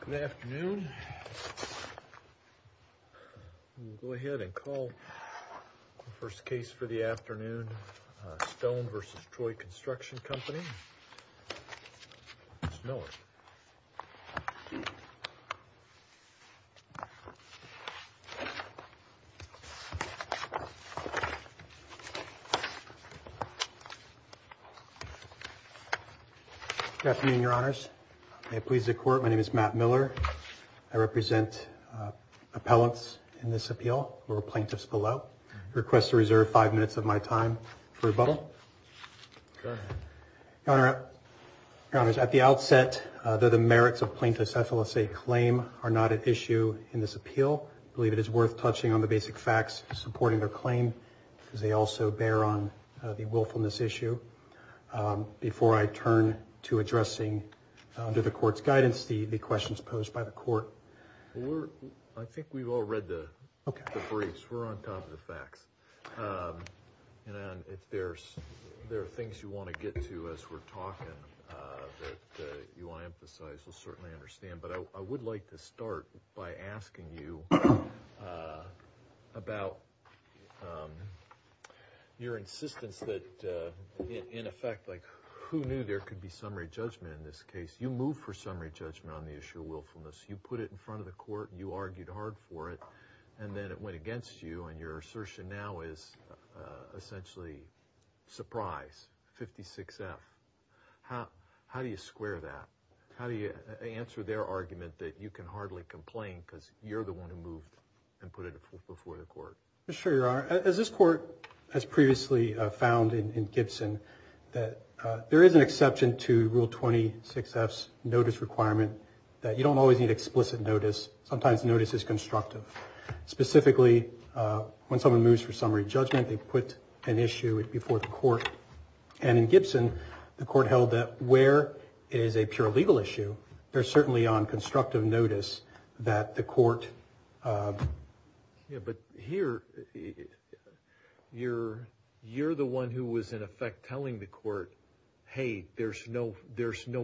Good afternoon. We'll go ahead and call the first case for the afternoon, Stone v. Troy Construction Company, Mr. Miller. Good afternoon, Your Honors. May it please the Court, my name is Matt Miller. I represent appellants in this appeal or plaintiffs below. I request to reserve five minutes of my time for rebuttal. Your Honors, at the outset, though the merits of plaintiff's affidavit claim are not at issue in this appeal, I believe it is worth touching on the basic facts supporting their claim, as they also bear on the willfulness issue. Before I turn to addressing, under the Court's guidance, the questions posed by the Court. I think we've all read the briefs. We're on top of the facts. If there are things you want to get to as we're talking that you want to emphasize, we'll certainly understand. But I would like to start by asking you about your insistence that, in effect, who knew there could be summary judgment in this case? You moved for summary judgment on the issue of willfulness. You put it in front of the Court, you argued hard for it, and then it went against you, and your assertion now is essentially surprise, 56-F. How do you square that? How do you answer their argument that you can hardly complain because you're the one who moved and put it before the Court? Mr. Chair, Your Honor, as this Court has previously found in Gibson, there is an exception to Rule 26-F's notice requirement that you don't always need explicit notice. Sometimes notice is constructive. Specifically, when someone moves for summary judgment, they put an issue before the Court, and in Gibson, the Court held that where it is a pure legal issue, they're certainly on constructive notice that the Court... But here, you're the one who was in effect telling the Court, hey, there's no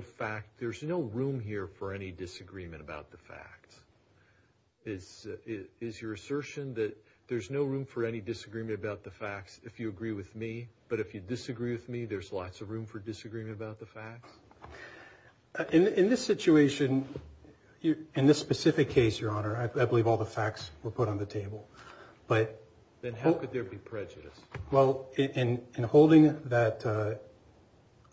fact, there's no room here for any disagreement about the facts. Is your assertion that there's no room for any disagreement about the facts if you agree with me, but if you disagree with me, there's lots of room for disagreement about the facts? In this situation, in this specific case, Your Honor, I believe all the facts were put on the table, but... Then how could there be prejudice? Well, in holding that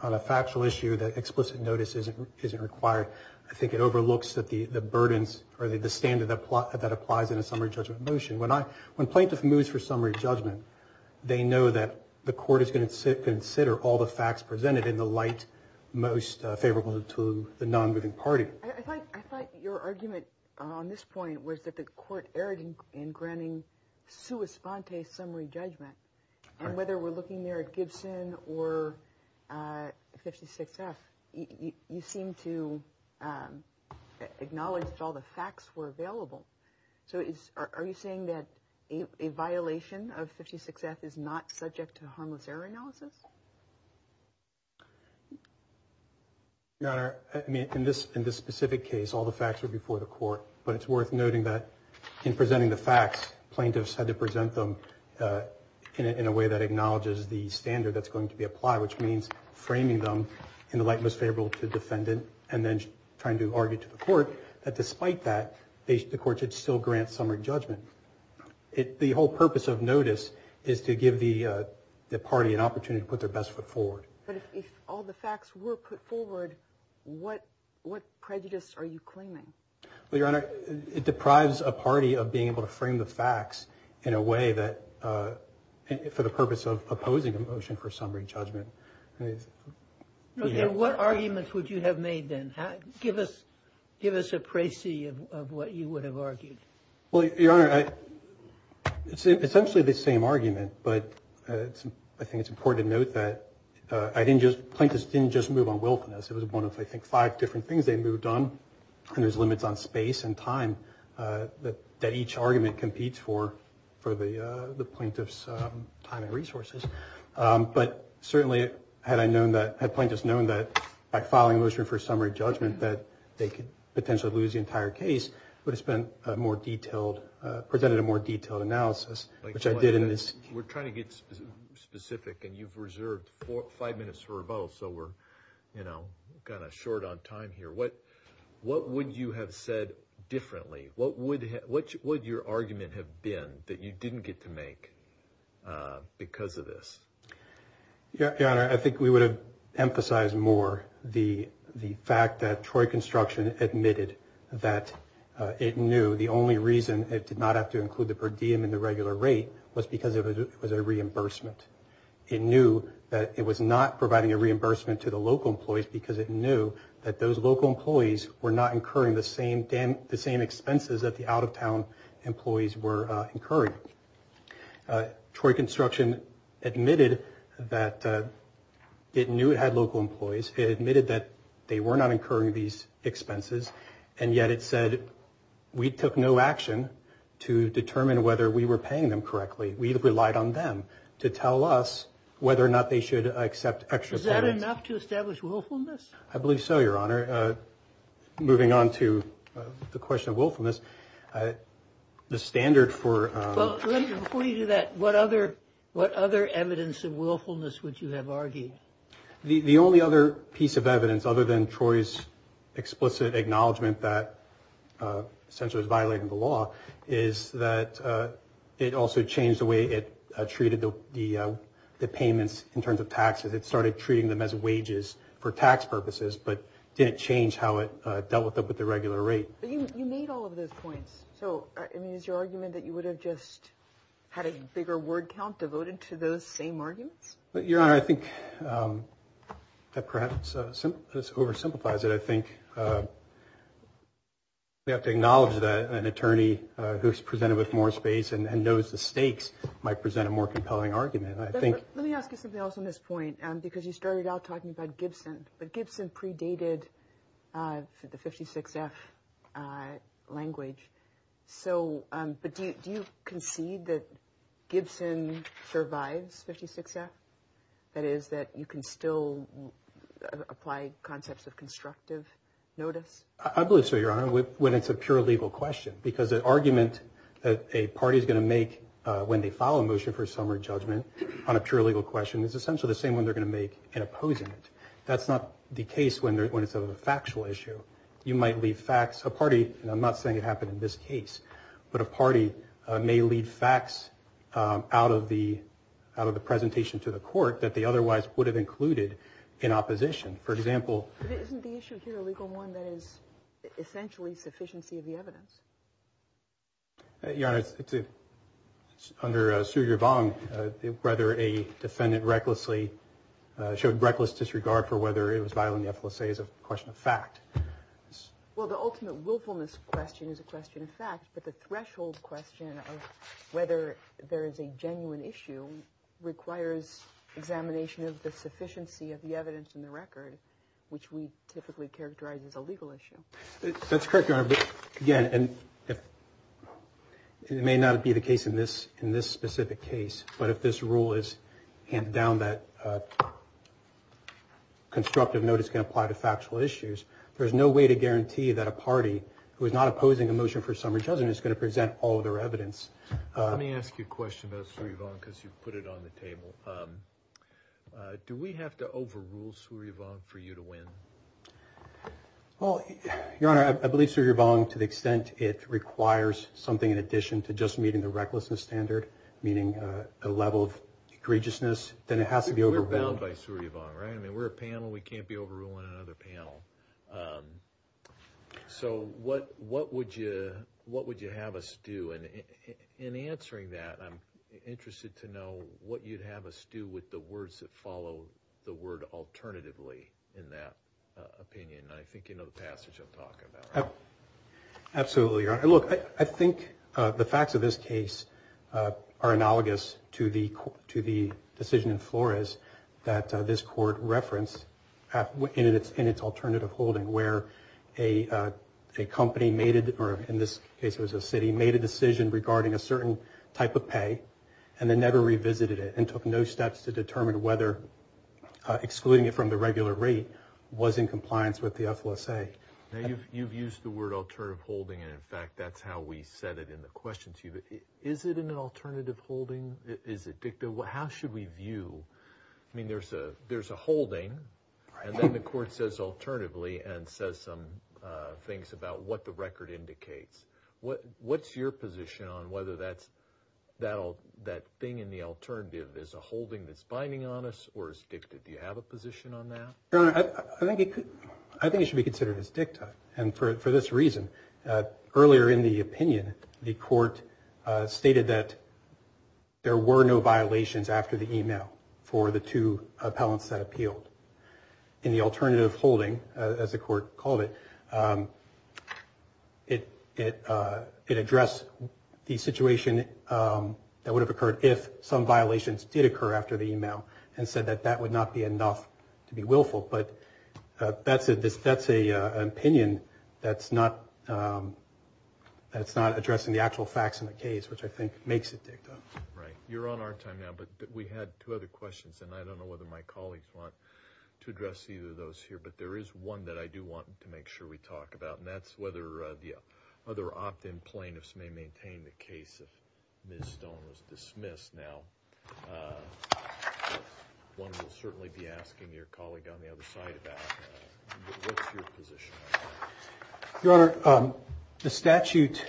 on a factual issue that explicit notice isn't required, I think it overlooks the burdens or the standard that applies in a summary judgment motion. When plaintiff moves for summary judgment, they know that the Court is going to consider all the facts presented in the light most favorable to the non-moving party. I thought your argument on this point was that the Court erred in granting sua sponte summary judgment, and whether we're looking there at Gibson or 56F, you seem to acknowledge that all the facts were available. So are you saying that a violation of 56F is not subject to harmless error analysis? Your Honor, in this specific case, all the facts were before the Court, but it's worth noting that in presenting the facts, plaintiffs had to present them in a way that acknowledges the standard that's going to be applied, which means framing them in the light most favorable to the defendant, and then trying to argue to the Court that despite that, the Court should still grant summary judgment. The whole purpose of notice is to give the party an opportunity to put their best foot forward. But if all the facts were put forward, what prejudice are you claiming? Well, Your Honor, it deprives a party of being able to frame the facts in a way that, for the purpose of opposing a motion for summary judgment. Okay, what arguments would you have made then? Give us a précis of what you would have argued. Well, Your Honor, it's essentially the same argument, but I think it's important to note that plaintiffs didn't just move on wilfulness. It was one of, I think, five different things they moved on, and there's limits on space and time that each argument competes for the plaintiff's time and resources. But certainly, had plaintiffs known that by filing a motion for summary judgment that they could potentially lose the entire case, it would have presented a more detailed analysis, which I did in this case. We're trying to get specific, and you've reserved five minutes for rebuttal, so we're kind of short on time here. What would you have said differently? What would your argument have been that you didn't get to make because of this? Your Honor, I think we would have emphasized more the fact that Troy Construction admitted that it knew the only reason it did not have to include the per diem in the regular rate was because it was a reimbursement. It knew that it was not providing a reimbursement to the local employees because it knew that those local employees were not incurring the same expenses that the out-of-town employees were incurring. Troy Construction admitted that it knew it had local employees. It admitted that they were not incurring these expenses, and yet it said, we took no action to determine whether we were paying them correctly. We relied on them to tell us whether or not they should accept extra payments. Is that enough to establish willfulness? I believe so, Your Honor. Moving on to the question of willfulness, the standard for... Before you do that, what other evidence of willfulness would you have argued? The only other piece of evidence, other than Troy's explicit acknowledgment that essentially it was violating the law, is that it also changed the way it treated the payments in terms of taxes. It started treating them as wages for tax purposes, but didn't change how it dealt with the regular rate. But you made all of those points. So, I mean, is your argument that you would have just had a bigger word count devoted to those same arguments? Your Honor, I think that perhaps this oversimplifies it. I think we have to acknowledge that an attorney who's presented with more space and knows the stakes might present a more compelling argument. Let me ask you something else on this point, because you started out talking about Gibson. But Gibson predated the 56-F language. But do you concede that Gibson survives 56-F? That is, that you can still apply concepts of constructive notice? I believe so, Your Honor, when it's a pure legal question. Because an argument that a party is going to make when they file a motion for summary judgment on a pure legal question is essentially the same one they're going to make in opposing it. That's not the case when it's a factual issue. You might leave facts. A party, and I'm not saying it happened in this case, but a party may leave facts out of the presentation to the court that they otherwise would have included in opposition. For example — But isn't the issue here a legal one that is essentially sufficiency of the evidence? Your Honor, under Suryavarman, whether a defendant recklessly showed reckless disregard for whether it was violating the FLSA is a question of fact. Well, the ultimate willfulness question is a question of fact. But the threshold question of whether there is a genuine issue requires examination of the sufficiency of the evidence in the record, which we typically characterize as a legal issue. That's correct, Your Honor. Again, it may not be the case in this specific case, but if this rule is handed down, that constructive notice can apply to factual issues. There's no way to guarantee that a party who is not opposing a motion for summary judgment is going to present all of their evidence. Let me ask you a question about Suryavarman because you put it on the table. Do we have to overrule Suryavarman for you to win? Well, Your Honor, I believe Suryavarman to the extent it requires something in addition to just meeting the recklessness standard, meaning a level of egregiousness, then it has to be overruled. We're bound by Suryavarman, right? I mean, we're a panel. We can't be overruling another panel. So what would you have us do? In answering that, I'm interested to know what you'd have us do with the words that follow the word alternatively in that opinion. I think you know the passage I'm talking about, right? Absolutely, Your Honor. I think the facts of this case are analogous to the decision in Flores that this court referenced in its alternative holding where a company made it, or in this case it was a city, made a decision regarding a certain type of pay and then never revisited it and took no steps to determine whether excluding it from the regular rate was in compliance with the FLSA. Now, you've used the word alternative holding, and in fact, that's how we said it in the question to you. But is it an alternative holding? Is it dicta? How should we view? I mean, there's a holding, and then the court says alternatively and says some things about what the record indicates. What's your position on whether that thing in the alternative is a holding that's binding on us or is dicta? Do you have a position on that? Your Honor, I think it should be considered as dicta, and for this reason, earlier in the opinion the court stated that there were no violations after the email for the two appellants that appealed. In the alternative holding, as the court called it, it addressed the situation that would have occurred if some violations did occur after the email and said that that would not be enough to be willful. But that's an opinion that's not addressing the actual facts in the case, which I think makes it dicta. Right. You're on our time now, but we had two other questions, and I don't know whether my colleagues want to address either of those here, but there is one that I do want to make sure we talk about, and that's whether the other opt-in plaintiffs may maintain the case if Ms. Stone was dismissed. Now, one will certainly be asking your colleague on the other side about that. What's your position on that? Your Honor, the statute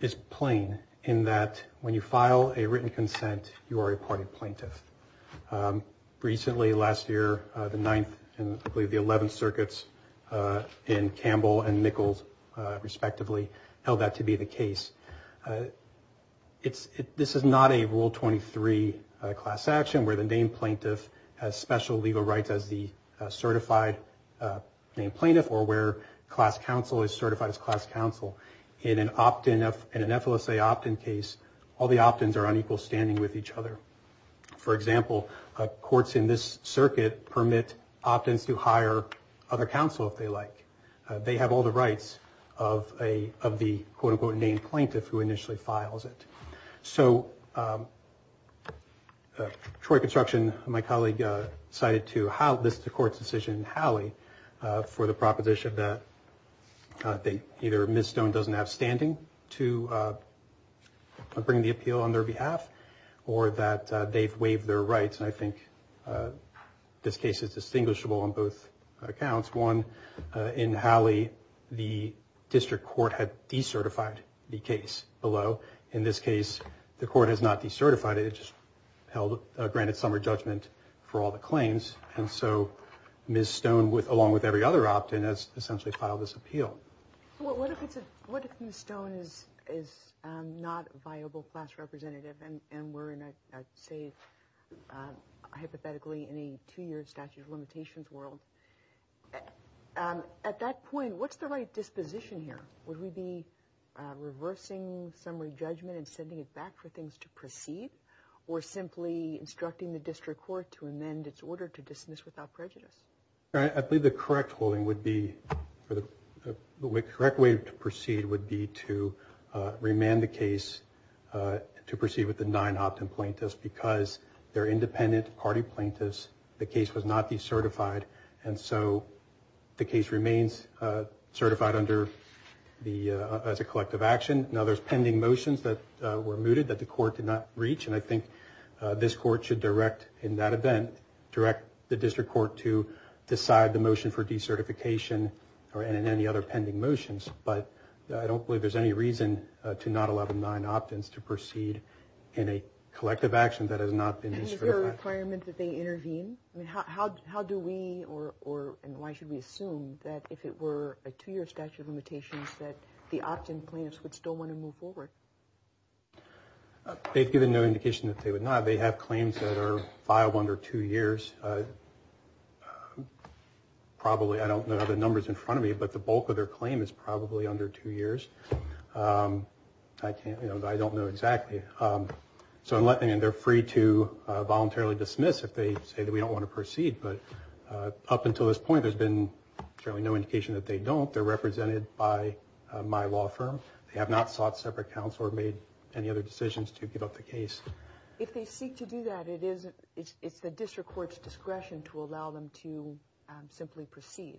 is plain in that when you file a written consent, you are a party plaintiff. Recently, last year, the 9th and I believe the 11th circuits in Campbell and Nichols, respectively, held that to be the case. This is not a Rule 23 class action where the named plaintiff has special legal rights as the certified named plaintiff or where class counsel is certified as class counsel. In an FLSA opt-in case, all the opt-ins are on equal standing with each other. For example, courts in this circuit permit opt-ins to hire other counsel if they like. They have all the rights of the quote-unquote named plaintiff who initially files it. So Troy Construction, my colleague, cited this to court's decision in Howley for the proposition that either Ms. Stone doesn't have standing to bring the appeal on their behalf or that they've waived their rights. And I think this case is distinguishable on both accounts. One, in Howley, the district court had decertified the case below. In this case, the court has not decertified it. It just held a granted summary judgment for all the claims. And so Ms. Stone, along with every other opt-in, has essentially filed this appeal. Well, what if Ms. Stone is not a viable class representative and we're in, I'd say, hypothetically, in a two-year statute of limitations world? At that point, what's the right disposition here? Would we be reversing summary judgment and sending it back for things to proceed or simply instructing the district court to amend its order to dismiss without prejudice? I believe the correct way to proceed would be to remand the case to proceed with the nine opt-in plaintiffs because they're independent party plaintiffs. The case was not decertified, and so the case remains certified as a collective action. Now, there's pending motions that were mooted that the court did not reach, and I think this court should direct, in that event, direct the district court to decide the motion for decertification or any other pending motions. But I don't believe there's any reason to not allow the nine opt-ins to proceed in a collective action that has not been decertified. And is there a requirement that they intervene? I mean, how do we or why should we assume that if it were a two-year statute of limitations that the opt-in plaintiffs would still want to move forward? They've given no indication that they would not. They have claims that are filed under two years. Probably, I don't know the numbers in front of me, but the bulk of their claim is probably under two years. I can't, you know, I don't know exactly. So, I mean, they're free to voluntarily dismiss if they say that we don't want to proceed. But up until this point, there's been certainly no indication that they don't. They're represented by my law firm. They have not sought separate counsel or made any other decisions to give up the case. If they seek to do that, it's the district court's discretion to allow them to simply proceed,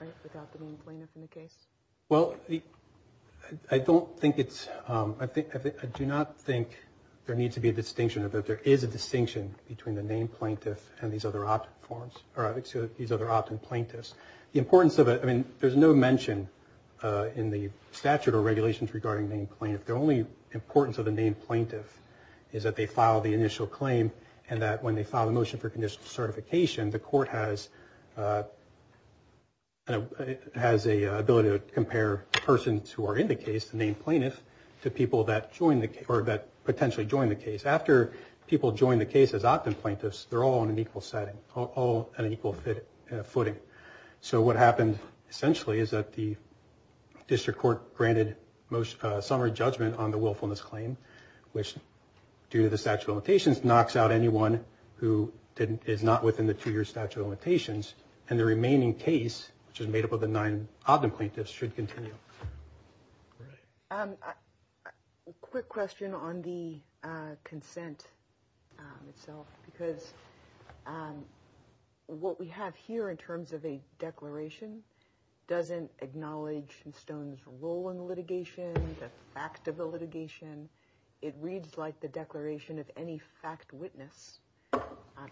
right, without the main plaintiff in the case? Well, I don't think it's – I do not think there needs to be a distinction, that there is a distinction between the main plaintiff and these other opt-in forms, or these other opt-in plaintiffs. The importance of it – I mean, there's no mention in the statute or regulations regarding the main plaintiff. The only importance of the main plaintiff is that they file the initial claim and that when they file a motion for conditional certification, the court has an ability to compare persons who are in the case, the main plaintiff, to people that join the – or that potentially join the case. After people join the case as opt-in plaintiffs, they're all on an equal setting, all on an equal footing. So what happened essentially is that the district court granted summary judgment on the willfulness claim, which, due to the statute of limitations, knocks out anyone who is not within the two-year statute of limitations, and the remaining case, which is made up of the nine opt-in plaintiffs, should continue. All right. A quick question on the consent itself, because what we have here in terms of a declaration doesn't acknowledge Stone's role in the litigation, the fact of the litigation. It reads like the declaration of any fact witness.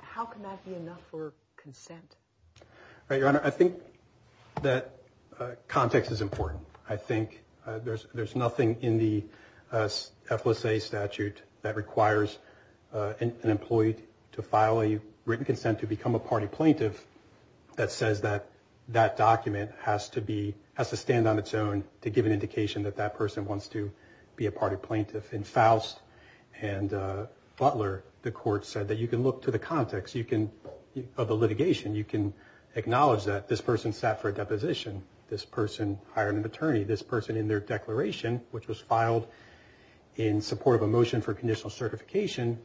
How can that be enough for consent? Your Honor, I think that context is important. I think there's nothing in the FLSA statute that requires an employee to file a written consent to become a party plaintiff that says that that document has to stand on its own to give an indication that that person wants to be a party plaintiff. In Faust and Butler, the court said that you can look to the context of the litigation. You can acknowledge that this person sat for a deposition, this person hired an attorney, this person in their declaration, which was filed in support of a motion for conditional certification,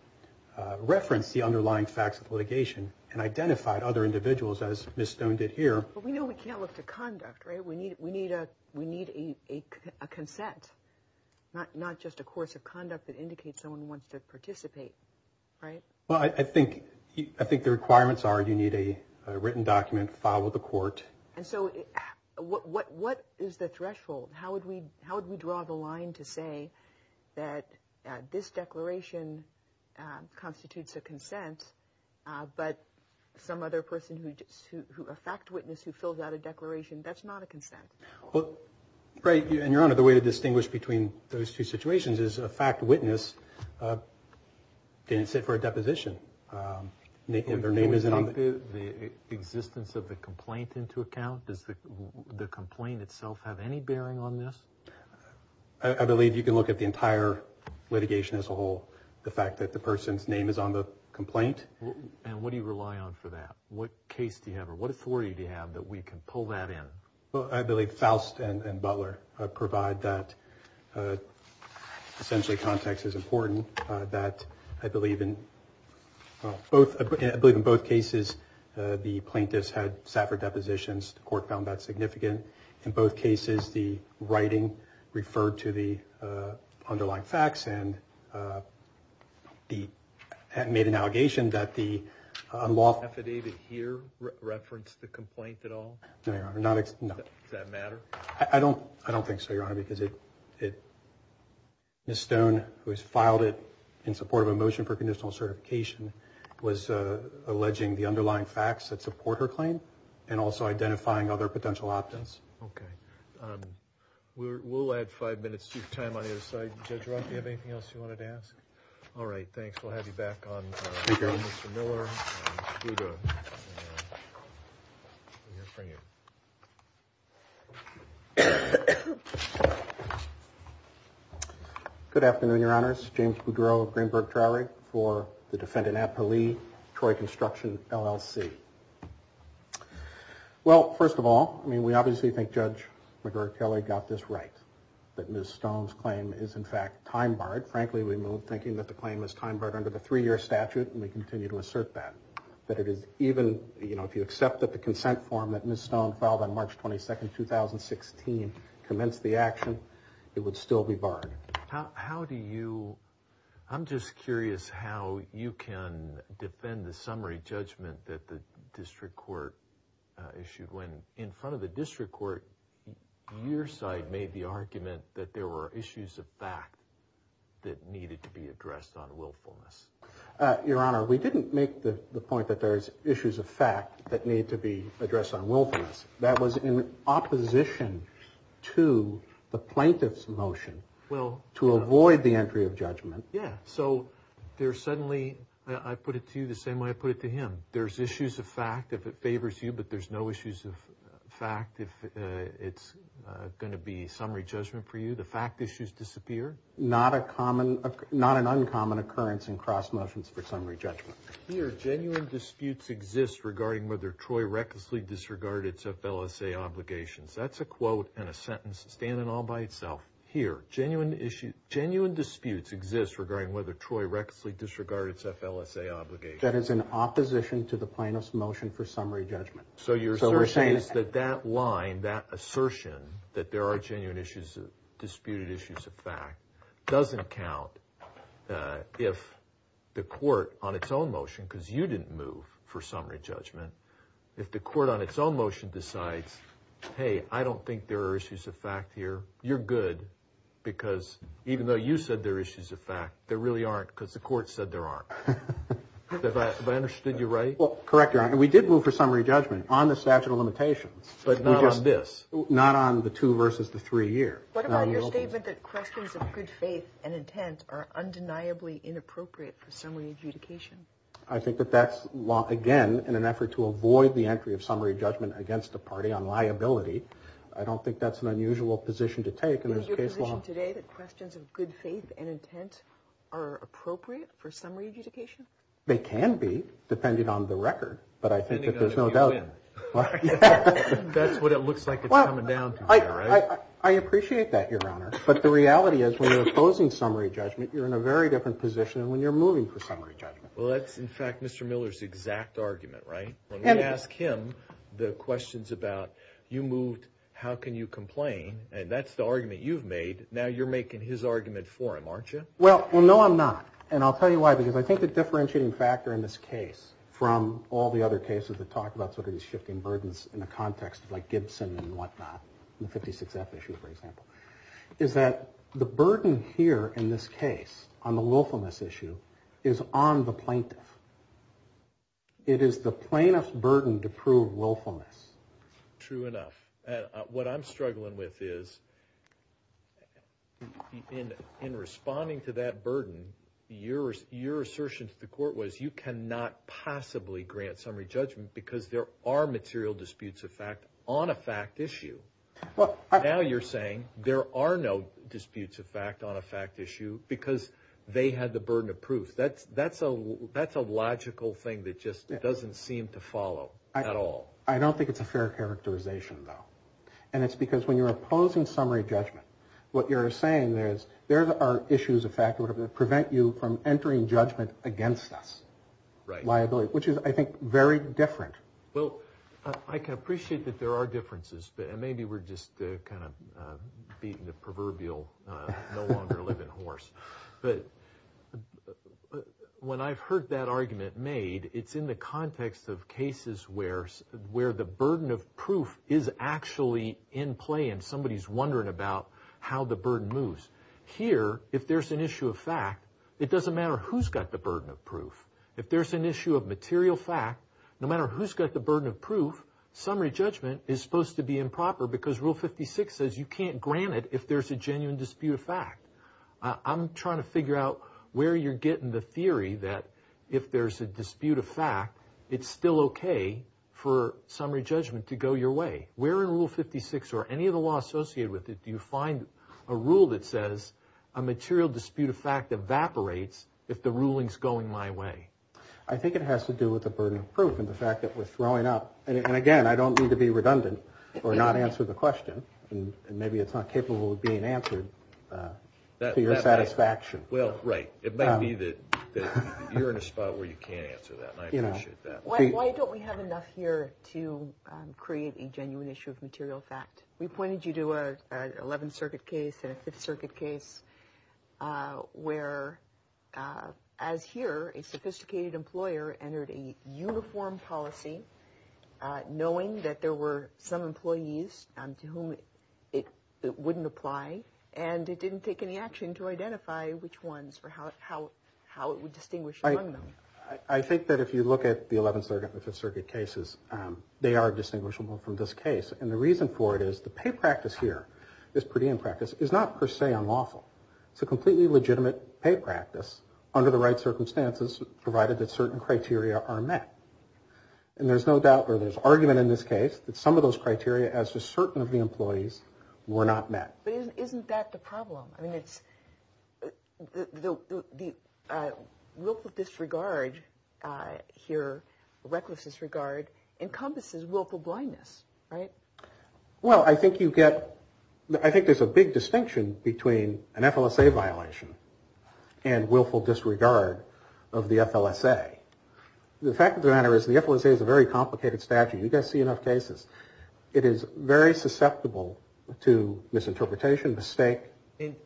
referenced the underlying facts of litigation and identified other individuals, as Ms. Stone did here. But we know we can't look to conduct, right? We need a consent, not just a course of conduct that indicates someone wants to participate, right? Well, I think the requirements are you need a written document filed with the court. And so what is the threshold? How would we draw the line to say that this declaration constitutes a consent, but some other person, a fact witness who fills out a declaration, that's not a consent? Well, right. And, Your Honor, the way to distinguish between those two situations is a fact witness didn't sit for a deposition, and their name isn't on the- Do we take the existence of the complaint into account? Does the complaint itself have any bearing on this? I believe you can look at the entire litigation as a whole, the fact that the person's name is on the complaint. And what do you rely on for that? What case do you have or what authority do you have that we can pull that in? Well, I believe Faust and Butler provide that. Essentially, context is important. I believe in both cases the plaintiffs had sat for depositions. The court found that significant. In both cases, the writing referred to the underlying facts and made an allegation that the unlawful- Does that matter? I don't think so, Your Honor, because Ms. Stone, who has filed it in support of a motion for conditional certification, was alleging the underlying facts that support her claim and also identifying other potential options. Okay. We'll add five minutes to your time on the other side. Judge Roth, do you have anything else you wanted to ask? All right, thanks. We'll have you back on Mr. Miller. Good afternoon, Your Honors. James Boudreau of Greenberg Traurig for the Defendant at Pali, Troy Construction, LLC. Well, first of all, I mean, we obviously think Judge McGregor-Kelly got this right, that Ms. Stone's claim is, in fact, time-barred. Frankly, we move thinking that the claim is time-barred under the three-year statute, and we continue to assert that, that it is even-you know, if you accept that the consent form that Ms. Stone filed on March 22, 2016, commenced the action, it would still be barred. How do you-I'm just curious how you can defend the summary judgment that the district court issued when, in front of the district court, your side made the argument that there were issues of fact that needed to be addressed on willfulness? Your Honor, we didn't make the point that there's issues of fact that need to be addressed on willfulness. That was in opposition to the plaintiff's motion to avoid the entry of judgment. Yeah, so there's suddenly-I put it to you the same way I put it to him. There's issues of fact if it favors you, but there's no issues of fact if it's going to be summary judgment for you. The fact issues disappear. Not a common-not an uncommon occurrence in cross motions for summary judgment. Here, genuine disputes exist regarding whether Troy recklessly disregarded his FLSA obligations. That's a quote and a sentence standing all by itself. Here, genuine disputes exist regarding whether Troy recklessly disregarded his FLSA obligations. That is in opposition to the plaintiff's motion for summary judgment. So your assertion is that that line, that assertion, that there are genuine issues, disputed issues of fact, doesn't count if the court, on its own motion, because you didn't move for summary judgment, if the court on its own motion decides, hey, I don't think there are issues of fact here, you're good, because even though you said there are issues of fact, there really aren't because the court said there aren't. Have I understood you right? Correct, Your Honor. We did move for summary judgment on the statute of limitations. Not on this? Not on the two versus the three year. What about your statement that questions of good faith and intent are undeniably inappropriate for summary adjudication? I think that that's, again, in an effort to avoid the entry of summary judgment against the party on liability. I don't think that's an unusual position to take. Is it your position today that questions of good faith and intent are appropriate for summary adjudication? They can be, depending on the record, but I think that there's no doubt in it. That's what it looks like it's coming down to here, right? I appreciate that, Your Honor, but the reality is when you're opposing summary judgment, you're in a very different position than when you're moving for summary judgment. Well, that's, in fact, Mr. Miller's exact argument, right? When we ask him the questions about you moved, how can you complain? And that's the argument you've made. Now you're making his argument for him, aren't you? Well, no, I'm not, and I'll tell you why. Because I think the differentiating factor in this case from all the other cases that talk about sort of these shifting burdens in a context like Gibson and whatnot, the 56F issue, for example, is that the burden here in this case on the willfulness issue is on the plaintiff. It is the plaintiff's burden to prove willfulness. True enough. What I'm struggling with is in responding to that burden, your assertion to the court was you cannot possibly grant summary judgment because there are material disputes of fact on a fact issue. Now you're saying there are no disputes of fact on a fact issue because they had the burden of proof. That's a logical thing that just doesn't seem to follow at all. I don't think it's a fair characterization, though. And it's because when you're opposing summary judgment, what you're saying is there are issues of fact that prevent you from entering judgment against us, liability, which is, I think, very different. Well, I can appreciate that there are differences, but maybe we're just kind of beating the proverbial no longer living horse. But when I've heard that argument made, it's in the context of cases where the burden of proof is actually in play and somebody's wondering about how the burden moves. Here, if there's an issue of fact, it doesn't matter who's got the burden of proof. If there's an issue of material fact, no matter who's got the burden of proof, summary judgment is supposed to be improper because Rule 56 says you can't grant it if there's a genuine dispute of fact. I'm trying to figure out where you're getting the theory that if there's a dispute of fact, it's still okay for summary judgment to go your way. Where in Rule 56 or any of the law associated with it do you find a rule that says a material dispute of fact evaporates if the ruling's going my way? I think it has to do with the burden of proof and the fact that we're throwing up. And again, I don't mean to be redundant or not answer the question, and maybe it's not capable of being answered to your satisfaction. Well, right. It might be that you're in a spot where you can't answer that, and I appreciate that. Why don't we have enough here to create a genuine issue of material fact? We pointed you to an 11th Circuit case and a 5th Circuit case where, as here, a sophisticated employer entered a uniform policy knowing that there were some employees to whom it wouldn't apply, and it didn't take any action to identify which ones or how it would distinguish among them. I think that if you look at the 11th Circuit and the 5th Circuit cases, they are distinguishable from this case. And the reason for it is the pay practice here, this per diem practice, is not per se unlawful. It's a completely legitimate pay practice under the right circumstances, provided that certain criteria are met. And there's no doubt or there's argument in this case that some of those criteria as to certain of the employees were not met. But isn't that the problem? I mean, it's the willful disregard here, reckless disregard encompasses willful blindness, right? Well, I think you get, I think there's a big distinction between an FLSA violation and willful disregard of the FLSA. The fact of the matter is the FLSA is a very complicated statute. You guys see enough cases. It is very susceptible to misinterpretation, mistake.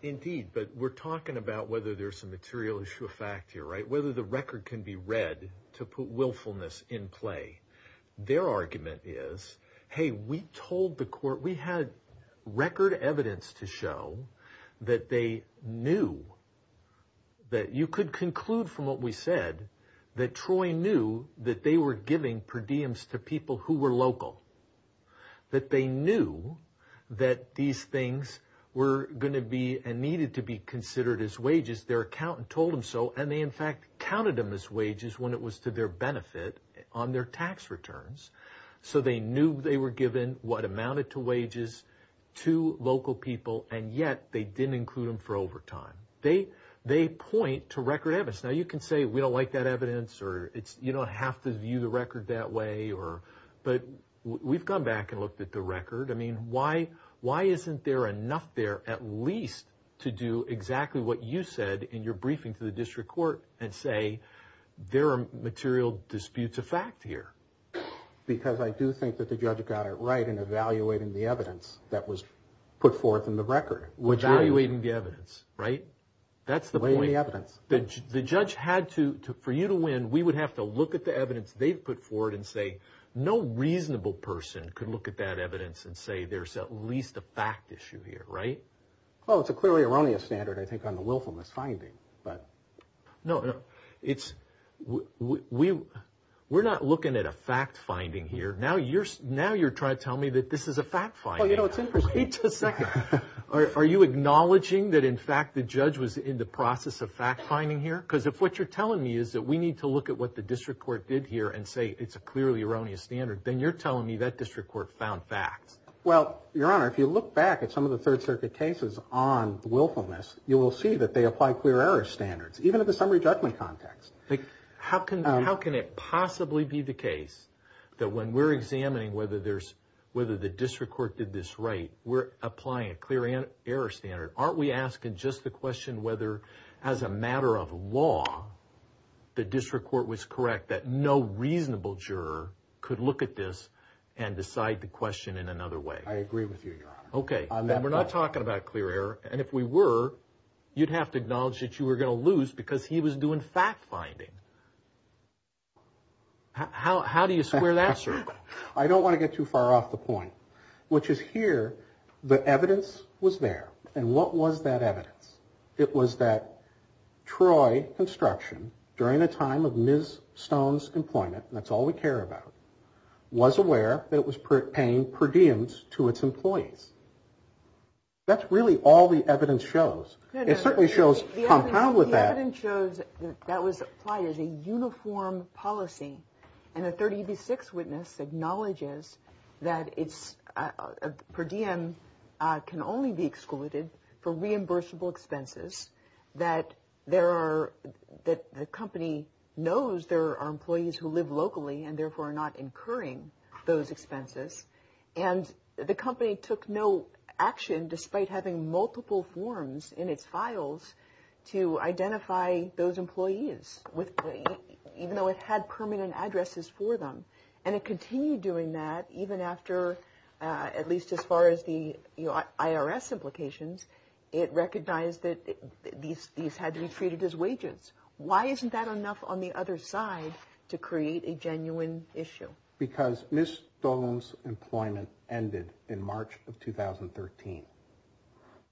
Indeed, but we're talking about whether there's some material issue of fact here, right? Whether the record can be read to put willfulness in play. Their argument is, hey, we told the court we had record evidence to show that they knew that you could conclude from what we said that Troy knew that they were giving per diems to people who were local, that they knew that these things were going to be and needed to be considered as wages. Their accountant told him so. And they in fact counted them as wages when it was to their benefit on their tax returns. So they knew they were given what amounted to wages to local people. And yet they didn't include them for overtime. They they point to record evidence. Now, you can say we don't like that evidence or it's you don't have to view the record that way or. But we've gone back and looked at the record. I mean, why? Why isn't there enough there at least to do exactly what you said in your briefing to the district court and say there are material disputes of fact here? Because I do think that the judge got it right in evaluating the evidence that was put forth in the record, which evaluating the evidence. Right. That's the way the evidence that the judge had to for you to win. We would have to look at the evidence they've put forward and say no reasonable person could look at that evidence and say there's at least a fact issue here. Right. Well, it's a clearly erroneous standard, I think, on the willfulness finding. But no, it's we we we're not looking at a fact finding here. Now you're now you're trying to tell me that this is a fact. Are you acknowledging that, in fact, the judge was in the process of fact finding here? Because if what you're telling me is that we need to look at what the district court did here and say it's a clearly erroneous standard, then you're telling me that district court found facts. Well, your honor, if you look back at some of the Third Circuit cases on willfulness, you will see that they apply clear error standards even at the summary judgment context. How can how can it possibly be the case that when we're examining whether there's whether the district court did this right, we're applying a clear and error standard? Aren't we asking just the question whether as a matter of law, the district court was correct that no reasonable juror could look at this and decide the question in another way? I agree with you, your honor. OK, we're not talking about clear error. And if we were, you'd have to acknowledge that you were going to lose because he was doing fact finding. How how do you square that? I don't want to get too far off the point, which is here. The evidence was there. And what was that evidence? It was that Troy Construction, during the time of Ms. Stone's employment, and that's all we care about, was aware that it was paying per diems to its employees. That's really all the evidence shows. It certainly shows compound with that. The evidence shows that was applied as a uniform policy and a 36 witness acknowledges that it's per diem can only be excluded for reimbursable expenses, that there are that the company knows there are employees who live locally and therefore are not incurring those expenses. And the company took no action despite having multiple forms in its files to identify those employees with even though it had permanent addresses for them. And it continued doing that even after at least as far as the IRS implications, it recognized that these these had to be treated as wages. Why isn't that enough on the other side to create a genuine issue? Because Ms. Stone's employment ended in March of 2013.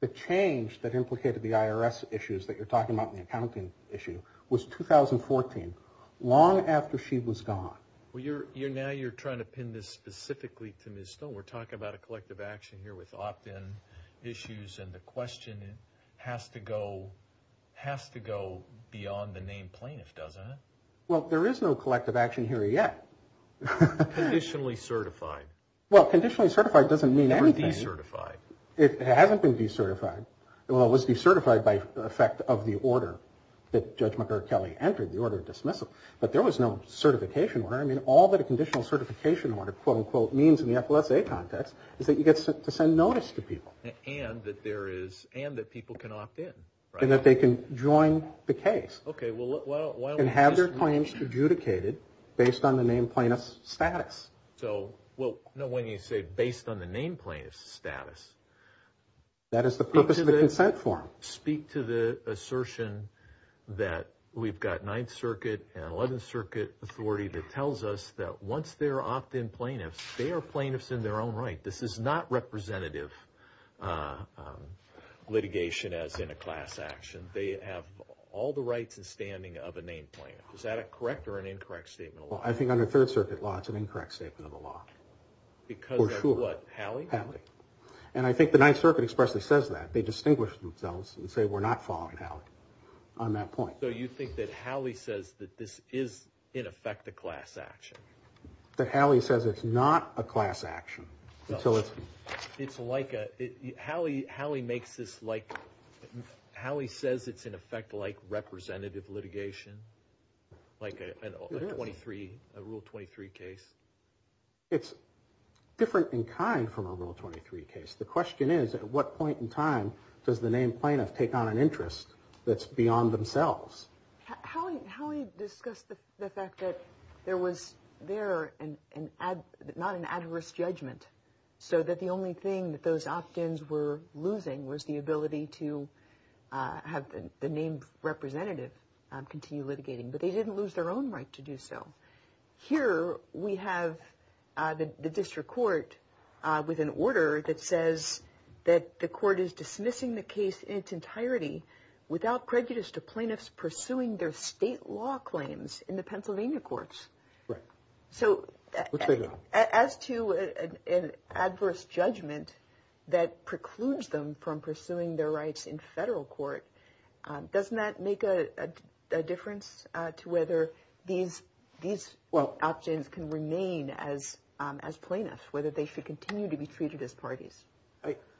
The change that implicated the IRS issues that you're talking about, the accounting issue, was 2014, long after she was gone. Well, you're you're now you're trying to pin this specifically to Ms. Stone. We're talking about a collective action here with opt in issues. And the question has to go has to go beyond the name plaintiff, doesn't it? Well, there is no collective action here yet. Conditionally certified. Well, conditionally certified doesn't mean anything certified. It hasn't been decertified. Well, it was decertified by effect of the order that Judge Kelly entered the order dismissal. But there was no certification. I mean, all that a conditional certification order, quote unquote, means in the FSA context is that you get to send notice to people. And that there is and that people can opt in and that they can join the case. OK, well, and have their claims adjudicated based on the name plaintiff's status. So, well, no, when you say based on the name plaintiff's status. That is the purpose of the consent form. Speak to the assertion that we've got Ninth Circuit and Eleventh Circuit authority that tells us that once they're opt in plaintiffs, they are plaintiffs in their own right. This is not representative litigation as in a class action. They have all the rights and standing of a name plaintiff. Is that a correct or an incorrect statement? Well, I think under Third Circuit law, it's an incorrect statement of the law. Because what? And I think the Ninth Circuit expressly says that they distinguish themselves and say, we're not following how on that point. So you think that Howie says that this is, in effect, a class action that Howie says it's not a class action. It's like Howie makes this like Howie says it's in effect like representative litigation, like a 23, a Rule 23 case. It's different in kind from a Rule 23 case. The question is, at what point in time does the name plaintiff take on an interest that's beyond themselves? Howie discussed the fact that there was there and not an adverse judgment. So that the only thing that those opt ins were losing was the ability to have the name representative continue litigating. But they didn't lose their own right to do so. Here we have the district court with an order that says that the court is dismissing the case in its entirety without prejudice to plaintiffs pursuing their state law claims in the Pennsylvania courts. So as to an adverse judgment that precludes them from pursuing their rights in federal court. Doesn't that make a difference to whether these these options can remain as as plaintiffs, whether they should continue to be treated as parties?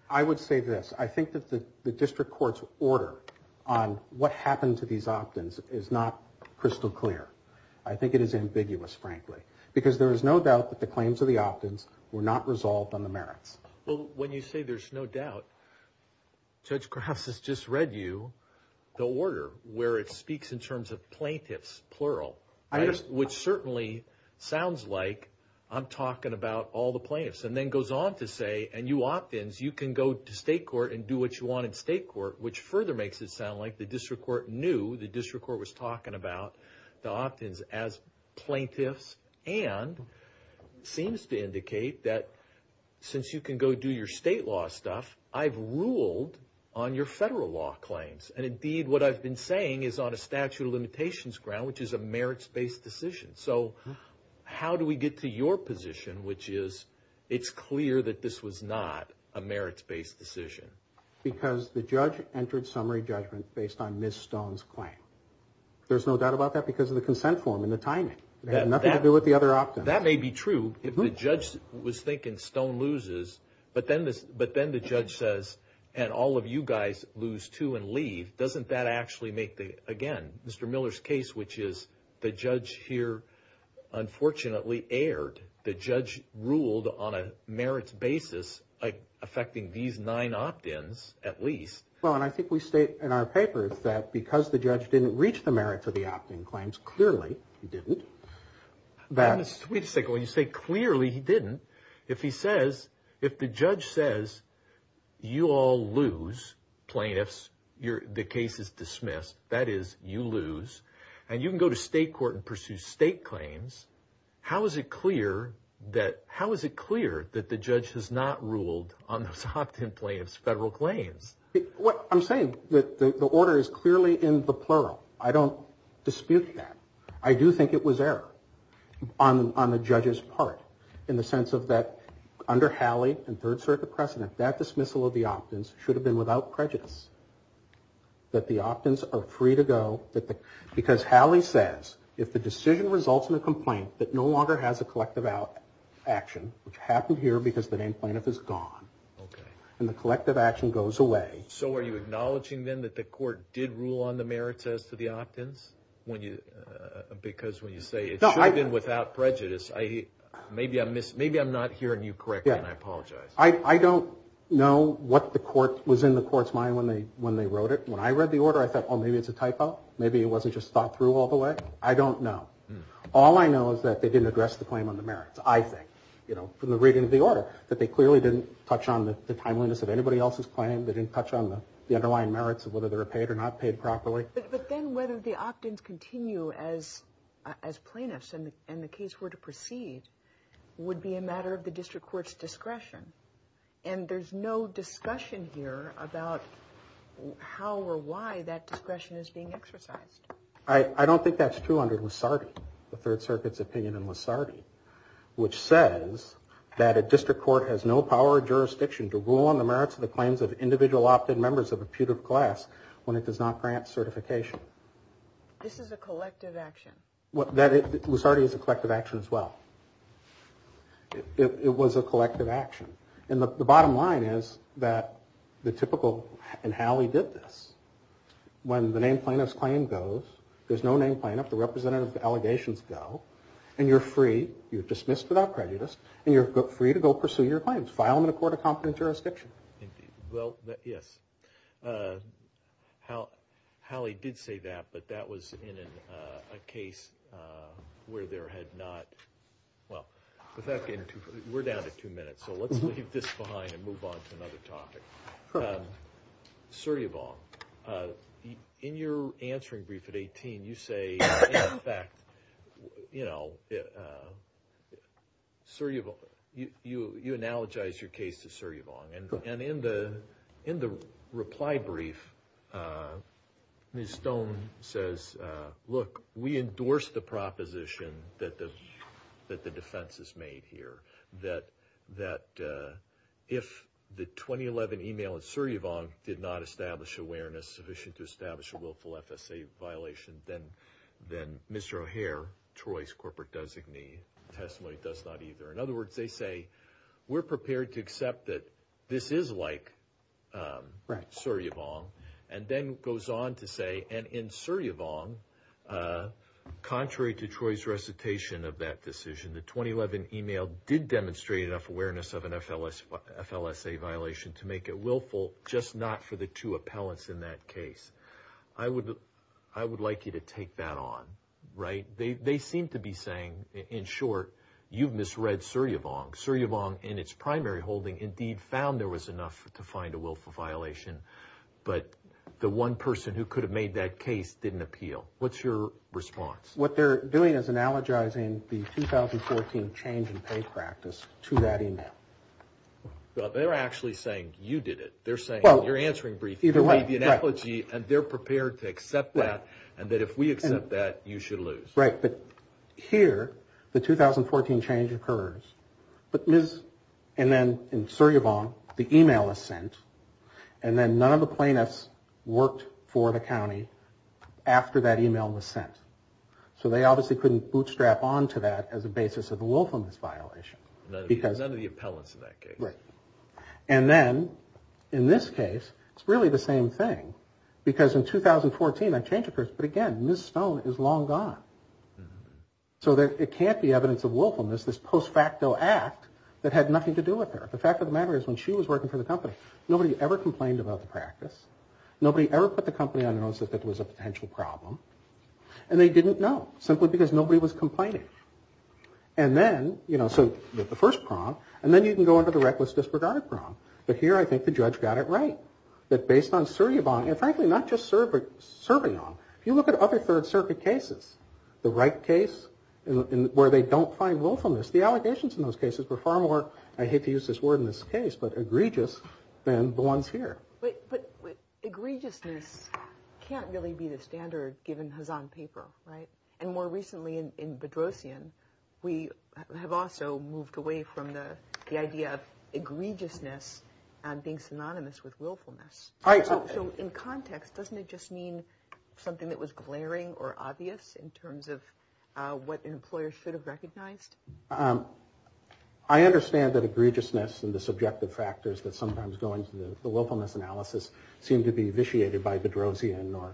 I would say this. I think that the district court's order on what happened to these opt ins is not crystal clear. I think it is ambiguous, frankly, because there is no doubt that the claims of the opt ins were not resolved on the merits. Well, when you say there's no doubt, Judge Krause has just read you the order where it speaks in terms of plaintiffs. Plural, which certainly sounds like I'm talking about all the plaintiffs and then goes on to say and you opt ins. You can go to state court and do what you want in state court, which further makes it sound like the district court knew the district court was talking about the opt ins as plaintiffs. And seems to indicate that since you can go do your state law stuff, I've ruled on your federal law claims. And indeed, what I've been saying is on a statute of limitations ground, which is a merits based decision. So how do we get to your position, which is it's clear that this was not a merits based decision? Because the judge entered summary judgment based on Miss Stone's claim. There's no doubt about that because of the consent form and the timing. It had nothing to do with the other opt ins. That may be true if the judge was thinking Stone loses, but then the judge says and all of you guys lose too and leave. Doesn't that actually make the, again, Mr. Miller's case, which is the judge here unfortunately erred. The judge ruled on a merits basis affecting these nine opt ins at least. Well, and I think we state in our papers that because the judge didn't reach the merits of the opt in claims, clearly he didn't. Wait a second. When you say clearly he didn't, if he says, if the judge says you all lose plaintiffs, the case is dismissed. That is you lose. And you can go to state court and pursue state claims. How is it clear that the judge has not ruled on those opt in plaintiffs federal claims? I'm saying that the order is clearly in the plural. I don't dispute that. I do think it was error on the judge's part in the sense of that under Halley and third circuit precedent, that dismissal of the opt ins should have been without prejudice, that the opt ins are free to go. Because Halley says if the decision results in a complaint that no longer has a collective action, which happened here because the named plaintiff is gone, and the collective action goes away. So are you acknowledging then that the court did rule on the merits as to the opt ins? Because when you say it should have been without prejudice, maybe I'm not hearing you correctly and I apologize. I don't know what was in the court's mind when they wrote it. When I read the order, I thought, oh, maybe it's a typo. Maybe it wasn't just thought through all the way. I don't know. All I know is that they didn't address the claim on the merits, I think. You know, from the reading of the order, that they clearly didn't touch on the timeliness of anybody else's claim. They didn't touch on the underlying merits of whether they were paid or not paid properly. But then whether the opt ins continue as plaintiffs and the case were to proceed would be a matter of the district court's discretion. And there's no discussion here about how or why that discretion is being exercised. I don't think that's true under Lusardi, the Third Circuit's opinion in Lusardi, which says that a district court has no power or jurisdiction to rule on the merits of the claims of individual opt in members of a putative class when it does not grant certification. This is a collective action. Lusardi is a collective action as well. It was a collective action. And the bottom line is that the typical, and Howley did this, when the name plaintiff's claim goes, there's no name plaintiff, the representative allegations go, and you're free, you're dismissed without prejudice, and you're free to go pursue your claims. File them in a court of competent jurisdiction. Indeed. Well, yes. Howley did say that, but that was in a case where there had not, well, we're down to two minutes. So let's leave this behind and move on to another topic. Suryavong, in your answering brief at 18, you say, in effect, you analogize your case to Suryavong. And in the reply brief, Ms. Stone says, look, we endorse the proposition that the defense has made here, that if the 2011 email at Suryavong did not establish awareness sufficient to establish a willful FSA violation, then Mr. O'Hare, Troy's corporate designee testimony, does not either. In other words, they say, we're prepared to accept that this is like Suryavong. And then goes on to say, and in Suryavong, contrary to Troy's recitation of that decision, the 2011 email did demonstrate enough awareness of an FLSA violation to make it willful, just not for the two appellants in that case. I would like you to take that on, right? They seem to be saying, in short, you've misread Suryavong. Suryavong, in its primary holding, indeed found there was enough to find a willful violation, but the one person who could have made that case didn't appeal. What's your response? What they're doing is analogizing the 2014 change in pay practice to that email. Well, they're actually saying you did it. They're saying you're answering briefly. You made the analogy, and they're prepared to accept that, and that if we accept that, you should lose. Right. But here, the 2014 change occurs, and then in Suryavong, the email is sent, and then none of the plaintiffs worked for the county after that email was sent. So they obviously couldn't bootstrap on to that as a basis of a willfulness violation. None of the appellants in that case. Right. And then, in this case, it's really the same thing, because in 2014 that change occurs, but again, Ms. Stone is long gone. So it can't be evidence of willfulness, this post facto act that had nothing to do with her. The fact of the matter is when she was working for the company, nobody ever complained about the practice. Nobody ever put the company on notice that there was a potential problem. And they didn't know, simply because nobody was complaining. And then, you know, so the first prong, and then you can go into the reckless disregard prong. But here, I think the judge got it right, that based on Suryavong, and frankly, not just Suryavong. If you look at other Third Circuit cases, the right case where they don't find willfulness, the allegations in those cases were far more, I hate to use this word in this case, but egregious than the ones here. But egregiousness can't really be the standard given Hazan paper, right? And more recently in Bedrosian, we have also moved away from the idea of egregiousness being synonymous with willfulness. So in context, doesn't it just mean something that was glaring or obvious in terms of what an employer should have recognized? I understand that egregiousness and the subjective factors that sometimes go into the willfulness analysis seem to be vitiated by Bedrosian or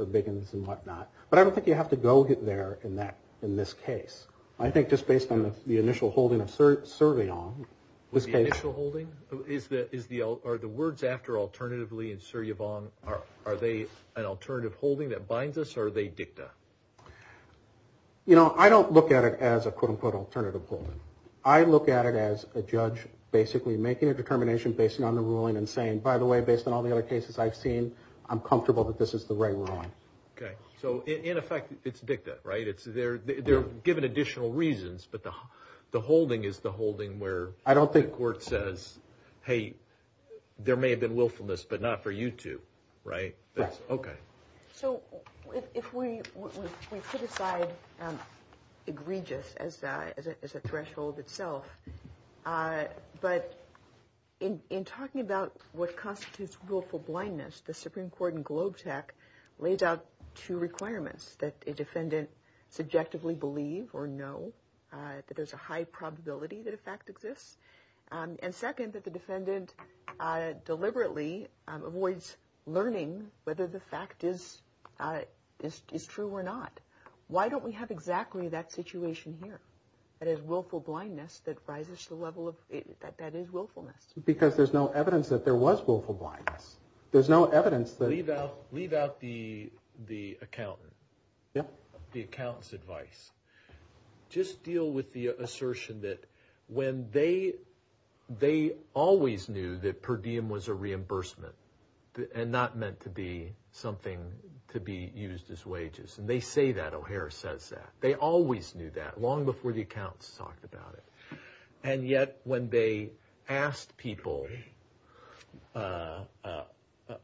Biggins and whatnot. But I don't think you have to go there in this case. I think just based on the initial holding of Suryavong. The initial holding? Are the words after alternatively in Suryavong, are they an alternative holding that binds us, or are they dicta? You know, I don't look at it as a quote-unquote alternative holding. I look at it as a judge basically making a determination based on the ruling and saying, by the way, based on all the other cases I've seen, I'm comfortable that this is the right ruling. Okay. So in effect, it's dicta, right? They're given additional reasons, but the holding is the holding where the court says, hey, there may have been willfulness, but not for you two, right? Correct. Okay. So if we put aside egregious as a threshold itself, but in talking about what constitutes willful blindness, the Supreme Court in Globe Tech lays out two requirements, that a defendant subjectively believe or know that there's a high probability that a fact exists, and second, that the defendant deliberately avoids learning whether the fact is true or not. Why don't we have exactly that situation here? That is willful blindness that rises to the level of, that is willfulness. Because there's no evidence that there was willful blindness. There's no evidence that. Leave out the accountant. Yep. The accountant's advice. Just deal with the assertion that when they, they always knew that per diem was a reimbursement and not meant to be something to be used as wages. And they say that, O'Hare says that. They always knew that long before the accountants talked about it. And yet when they asked people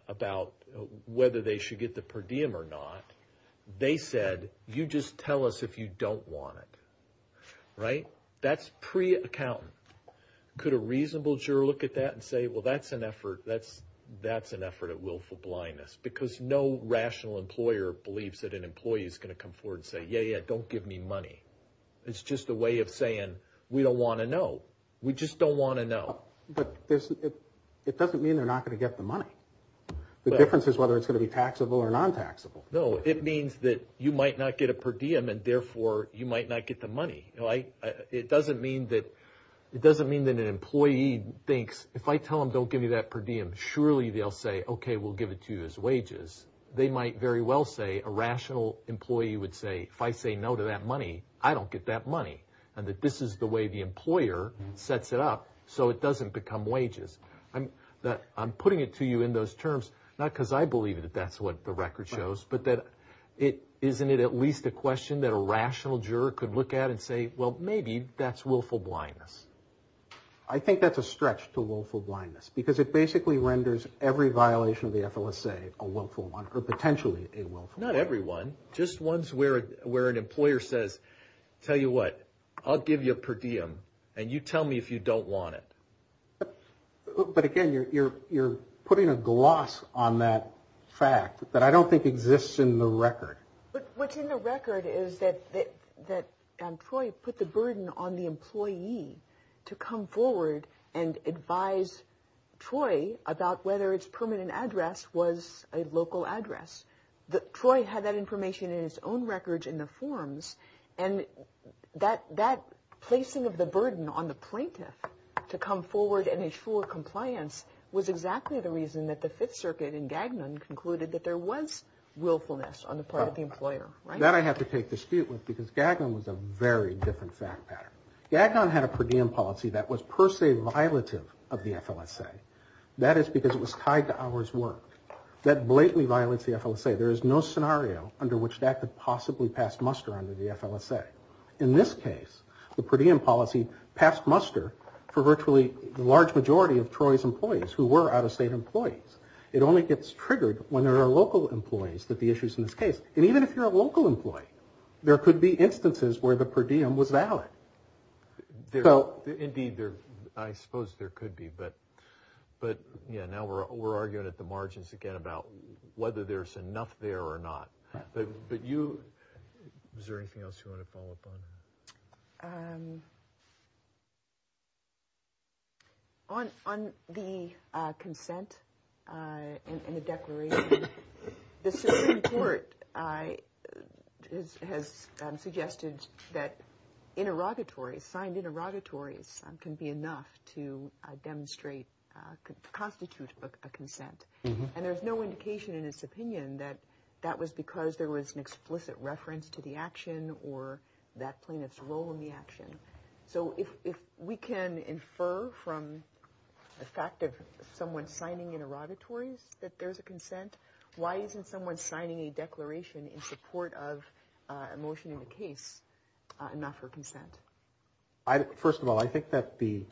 about whether they should get the per diem or not, they said, you just tell us if you don't want it. Right? That's pre-accountant. Could a reasonable juror look at that and say, well, that's an effort. That's an effort at willful blindness, because no rational employer believes that an employee is going to come forward and say, yeah, yeah, don't give me money. It's just a way of saying we don't want to know. We just don't want to know. But it doesn't mean they're not going to get the money. The difference is whether it's going to be taxable or non-taxable. No, it means that you might not get a per diem and, therefore, you might not get the money. It doesn't mean that an employee thinks if I tell them don't give me that per diem, surely they'll say, okay, we'll give it to you as wages. They might very well say a rational employee would say if I say no to that money, I don't get that money and that this is the way the employer sets it up so it doesn't become wages. I'm putting it to you in those terms not because I believe that that's what the record shows, but that isn't it at least a question that a rational juror could look at and say, well, maybe that's willful blindness. I think that's a stretch to willful blindness, because it basically renders every violation of the FLSA a willful one or potentially a willful one. Not every one. Just ones where an employer says, tell you what, I'll give you a per diem, and you tell me if you don't want it. But, again, you're putting a gloss on that fact that I don't think exists in the record. What's in the record is that Troy put the burden on the employee to come forward and advise Troy about whether its permanent address was a local address. Troy had that information in his own records in the forms, and that placing of the burden on the plaintiff to come forward and ensure compliance was exactly the reason that the Fifth Circuit in Gagnon concluded that there was willfulness on the part of the employer. That I have to take dispute with, because Gagnon was a very different fact pattern. Gagnon had a per diem policy that was per se violative of the FLSA. That is because it was tied to hours worked. That blatantly violates the FLSA. There is no scenario under which that could possibly pass muster under the FLSA. In this case, the per diem policy passed muster for virtually the large majority of Troy's employees who were out-of-state employees. It only gets triggered when there are local employees that the issue is in this case. And even if you're a local employee, there could be instances where the per diem was valid. Indeed, I suppose there could be, but, yeah, now we're arguing at the margins again about whether there's enough there or not. But you, is there anything else you want to follow up on? On the consent and the declaration, the Supreme Court has suggested that interrogatories, signed interrogatories can be enough to demonstrate, constitute a consent. And there's no indication in its opinion that that was because there was an explicit reference to the action or that plaintiff's role in the action. So if we can infer from the fact of someone signing interrogatories that there's a consent, why isn't someone signing a declaration in support of a motion in the case enough for consent? First of all, I think that the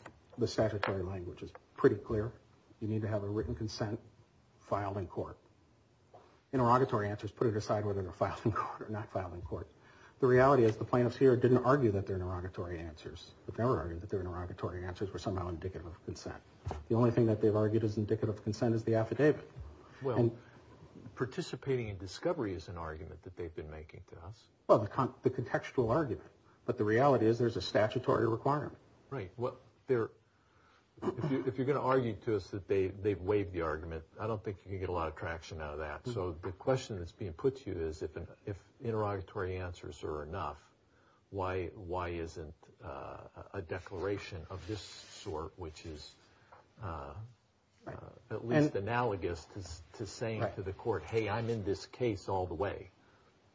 statutory language is pretty clear. You need to have a written consent filed in court. Interrogatory answers, put it aside whether they're filed in court or not filed in court. The reality is the plaintiffs here didn't argue that they're interrogatory answers, but they were arguing that their interrogatory answers were somehow indicative of consent. The only thing that they've argued is indicative of consent is the affidavit. Well, participating in discovery is an argument that they've been making to us. Well, the contextual argument, but the reality is there's a statutory requirement. Right. Well, if you're going to argue to us that they've waived the argument, I don't think you can get a lot of traction out of that. So the question that's being put to you is if interrogatory answers are enough, why isn't a declaration of this sort, which is at least analogous to saying to the court, hey, I'm in this case all the way?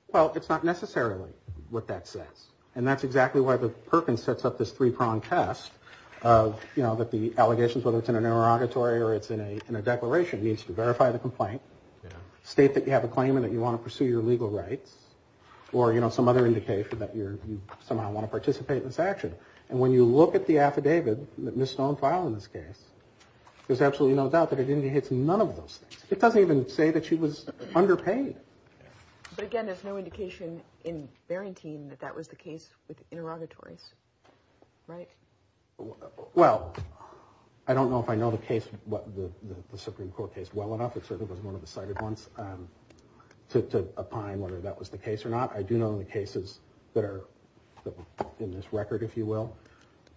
Well, it's not necessarily what that says. And that's exactly why the Perkins sets up this three-pronged test of, you know, that the allegations, whether it's in an interrogatory or it's in a declaration, needs to verify the complaint, state that you have a claim and that you want to pursue your legal rights or, you know, some other indication that you somehow want to participate in this action. And when you look at the affidavit that Ms. Stone filed in this case, there's absolutely no doubt that it indicates none of those things. It doesn't even say that she was underpaid. But again, there's no indication in Barrington that that was the case with interrogatories, right? Well, I don't know if I know the case, the Supreme Court case, well enough. It certainly wasn't one of the cited ones to opine whether that was the case or not. I do know in the cases that are in this record, if you will,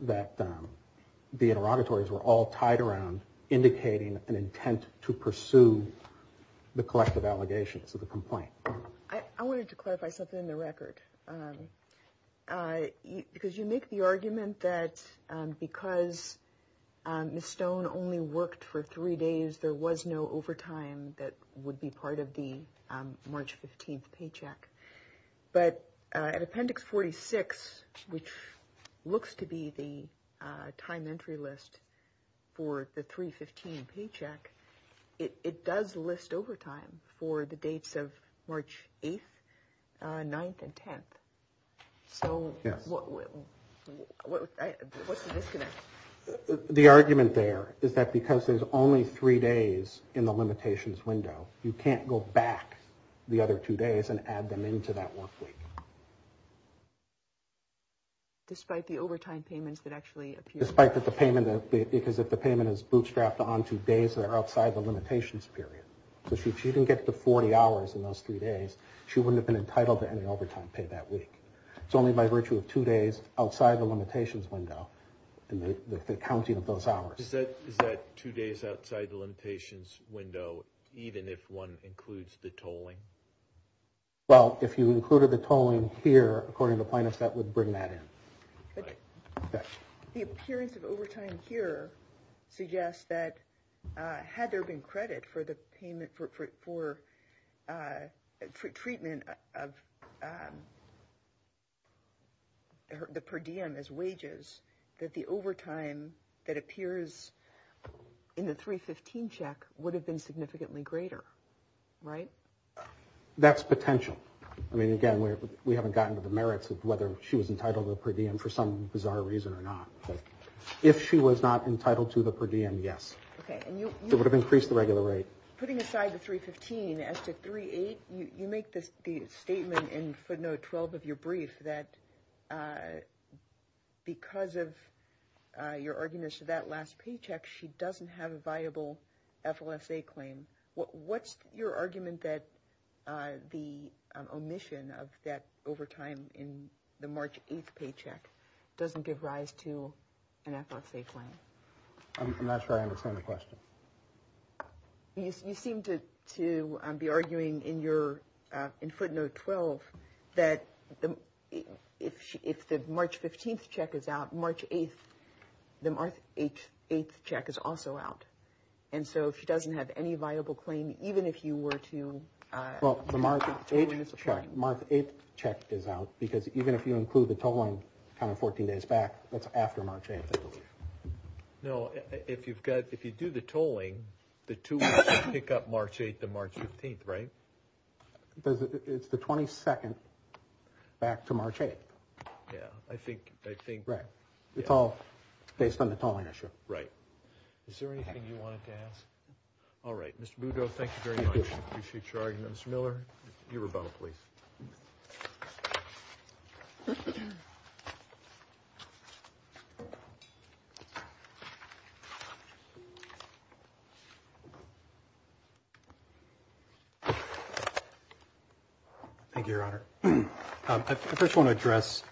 that the interrogatories were all tied around indicating an intent to pursue the collective allegations of the complaint. I wanted to clarify something in the record. Because you make the argument that because Ms. Stone only worked for three days, there was no overtime that would be part of the March 15th paycheck. But at Appendix 46, which looks to be the time entry list for the 3-15 paycheck, it does list overtime for the dates of March 8th, 9th, and 10th. So what's the disconnect? The argument there is that because there's only three days in the limitations window, you can't go back the other two days and add them into that work week. Despite the overtime payments that actually appear? Because if the payment is bootstrapped onto days that are outside the limitations period. So if she didn't get to 40 hours in those three days, she wouldn't have been entitled to any overtime pay that week. It's only by virtue of two days outside the limitations window and the counting of those hours. Is that two days outside the limitations window even if one includes the tolling? Well, if you included the tolling here, according to plaintiffs, that would bring that in. The appearance of overtime here suggests that had there been credit for treatment of the per diem as wages, that the overtime that appears in the 3-15 check would have been significantly greater, right? That's potential. I mean, again, we haven't gotten to the merits of whether she was entitled to the per diem for some bizarre reason or not. If she was not entitled to the per diem, yes. It would have increased the regular rate. Putting aside the 3-15, as to 3-8, you make the statement in footnote 12 of your brief that because of your argument as to that last paycheck, she doesn't have a viable FLSA claim. What's your argument that the omission of that overtime in the March 8th paycheck doesn't give rise to an FLSA claim? I'm not sure I understand the question. You seem to be arguing in footnote 12 that if the March 15th check is out, March 8th, the March 8th check is also out. And so if she doesn't have any viable claim, even if you were to – Well, the March 8th check is out, because even if you include the tolling 14 days back, that's after March 8th, I believe. No, if you do the tolling, the two weeks pick up March 8th and March 15th, right? It's the 22nd back to March 8th. Yeah, I think – Right. It's all based on the tolling issue. Right. Is there anything you wanted to ask? All right. Mr. Budo, thank you very much. I appreciate your argument. Mr. Miller, your rebuttal, please. Thank you, Your Honor. I first want to address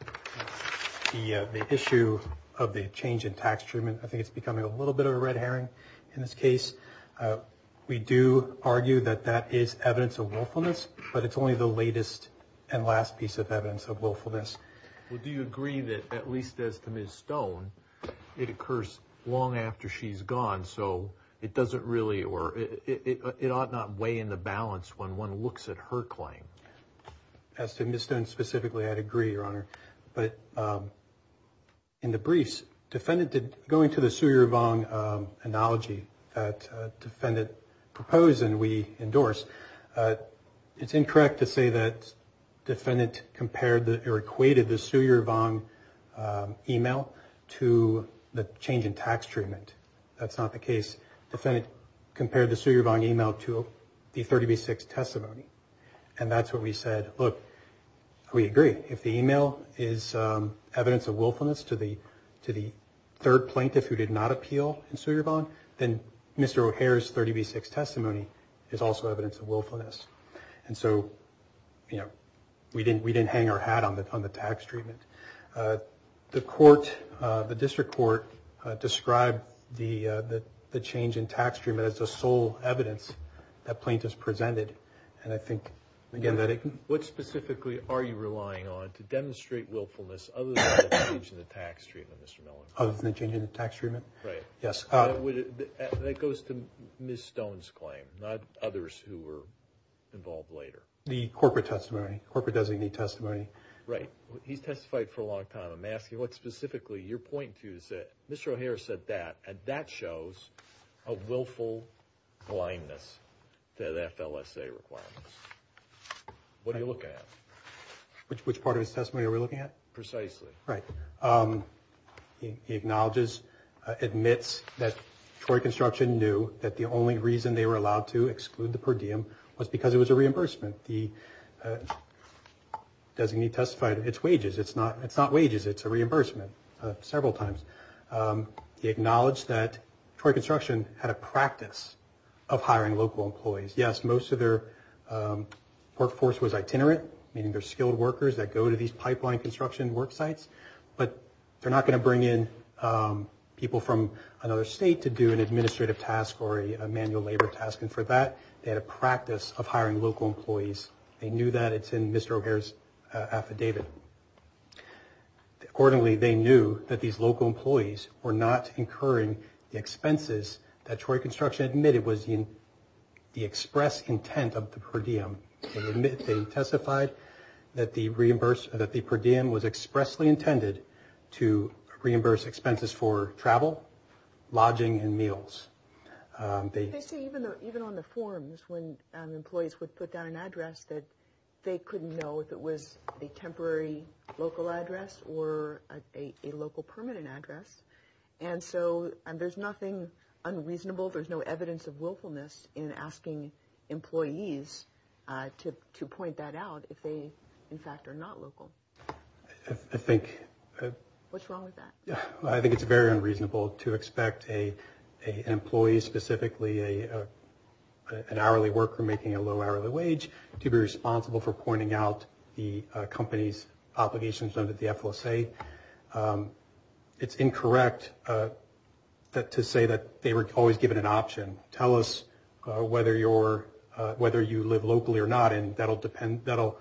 the issue of the change in tax treatment. I think it's becoming a little bit of a red herring in this case. We do argue that that is evidence of willfulness, but it's only the latest and last piece of evidence of willfulness. Well, do you agree that, at least as to Ms. Stone, it occurs long after she's gone, so it doesn't really – or it ought not weigh in the balance when one looks at her claim? As to Ms. Stone specifically, I'd agree, Your Honor. But in the briefs, defendant – going to the Su Yervong analogy that defendant proposed and we endorsed, it's incorrect to say that defendant compared or equated the Su Yervong email to the change in tax treatment. That's not the case. Defendant compared the Su Yervong email to the 30B6 testimony, and that's what we said. Look, we agree. If the email is evidence of willfulness to the third plaintiff who did not appeal in Su Yervong, then Mr. O'Hare's 30B6 testimony is also evidence of willfulness. And so, you know, we didn't hang our hat on the tax treatment. The court – the district court described the change in tax treatment as the sole evidence that plaintiffs presented. And I think, again, that it – What specifically are you relying on to demonstrate willfulness other than the change in the tax treatment, Mr. Miller? Other than the change in the tax treatment? Right. Yes. That goes to Ms. Stone's claim, not others who were involved later. The corporate testimony, corporate designee testimony. Right. He's testified for a long time. Your point, too, is that Mr. O'Hare said that, and that shows a willful blindness to the FLSA requirements. What are you looking at? Which part of his testimony are we looking at? Precisely. Right. He acknowledges, admits that Troy Construction knew that the only reason they were allowed to exclude the per diem was because it was a reimbursement. The designee testified, it's wages. It's not wages. It's a reimbursement, several times. He acknowledged that Troy Construction had a practice of hiring local employees. Yes, most of their workforce was itinerant, meaning they're skilled workers that go to these pipeline construction work sites, but they're not going to bring in people from another state to do an administrative task or a manual labor task. And for that, they had a practice of hiring local employees. They knew that. It's in Mr. O'Hare's affidavit. Accordingly, they knew that these local employees were not incurring the expenses that Troy Construction admitted was the express intent of the per diem. They testified that the per diem was expressly intended to reimburse expenses for travel, lodging, and meals. They say even on the forms when employees would put down an address that they couldn't know if it was a temporary local address or a local permanent address. And so there's nothing unreasonable. There's no evidence of willfulness in asking employees to point that out if they, in fact, are not local. I think. What's wrong with that? I think it's very unreasonable to expect an employee, specifically an hourly worker making a low hourly wage, to be responsible for pointing out the company's obligations under the FLSA. It's incorrect to say that they were always given an option. Tell us whether you live locally or not, and that'll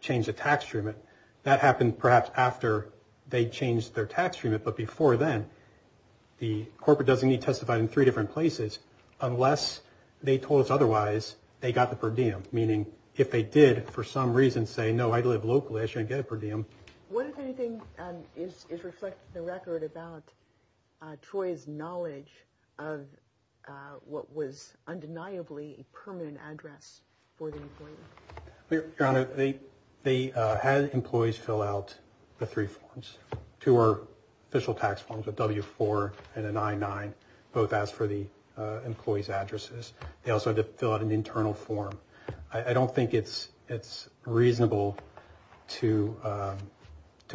change the tax treatment. That happened perhaps after they changed their tax treatment. But before then, the corporate doesn't need to testify in three different places unless they told us otherwise they got the per diem, meaning if they did for some reason say, no, I live locally, I shouldn't get a per diem. What, if anything, is reflected in the record about Troy's knowledge of what was undeniably a permanent address for the employee? Your Honor, they had employees fill out the three forms. Two were official tax forms, a W-4 and an I-9, both asked for the employee's addresses. They also had to fill out an internal form. I don't think it's reasonable to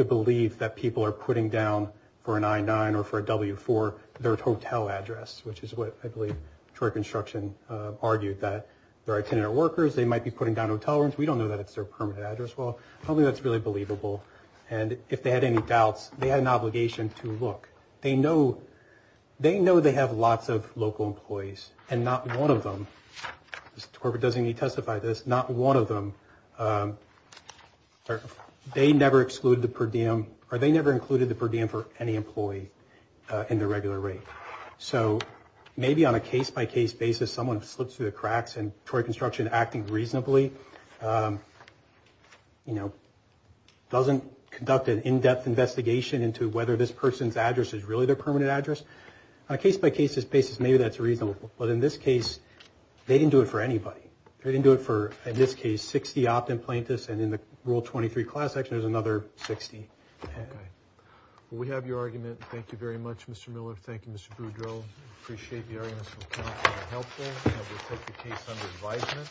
believe that people are putting down for an I-9 or for a W-4 their hotel address, which is what I believe Troy Construction argued that their itinerant workers, they might be putting down hotel rooms. We don't know that it's their permanent address. Well, I don't think that's really believable. And if they had any doubts, they had an obligation to look. They know they have lots of local employees, and not one of them, the corporate doesn't need to testify to this, not one of them, they never excluded the per diem or they never included the per diem for any employee in their regular rate. So maybe on a case-by-case basis, someone slips through the cracks, and Troy Construction, acting reasonably, doesn't conduct an in-depth investigation into whether this person's address is really their permanent address. On a case-by-case basis, maybe that's reasonable. But in this case, they didn't do it for anybody. They didn't do it for, in this case, 60 opt-in plaintiffs, and in the Rule 23 class action, there's another 60. We have your argument. Thank you very much, Mr. Miller. Thank you, Mr. Boudreaux. I appreciate the argument from counsel. It's helpful. I will take the case under advisement.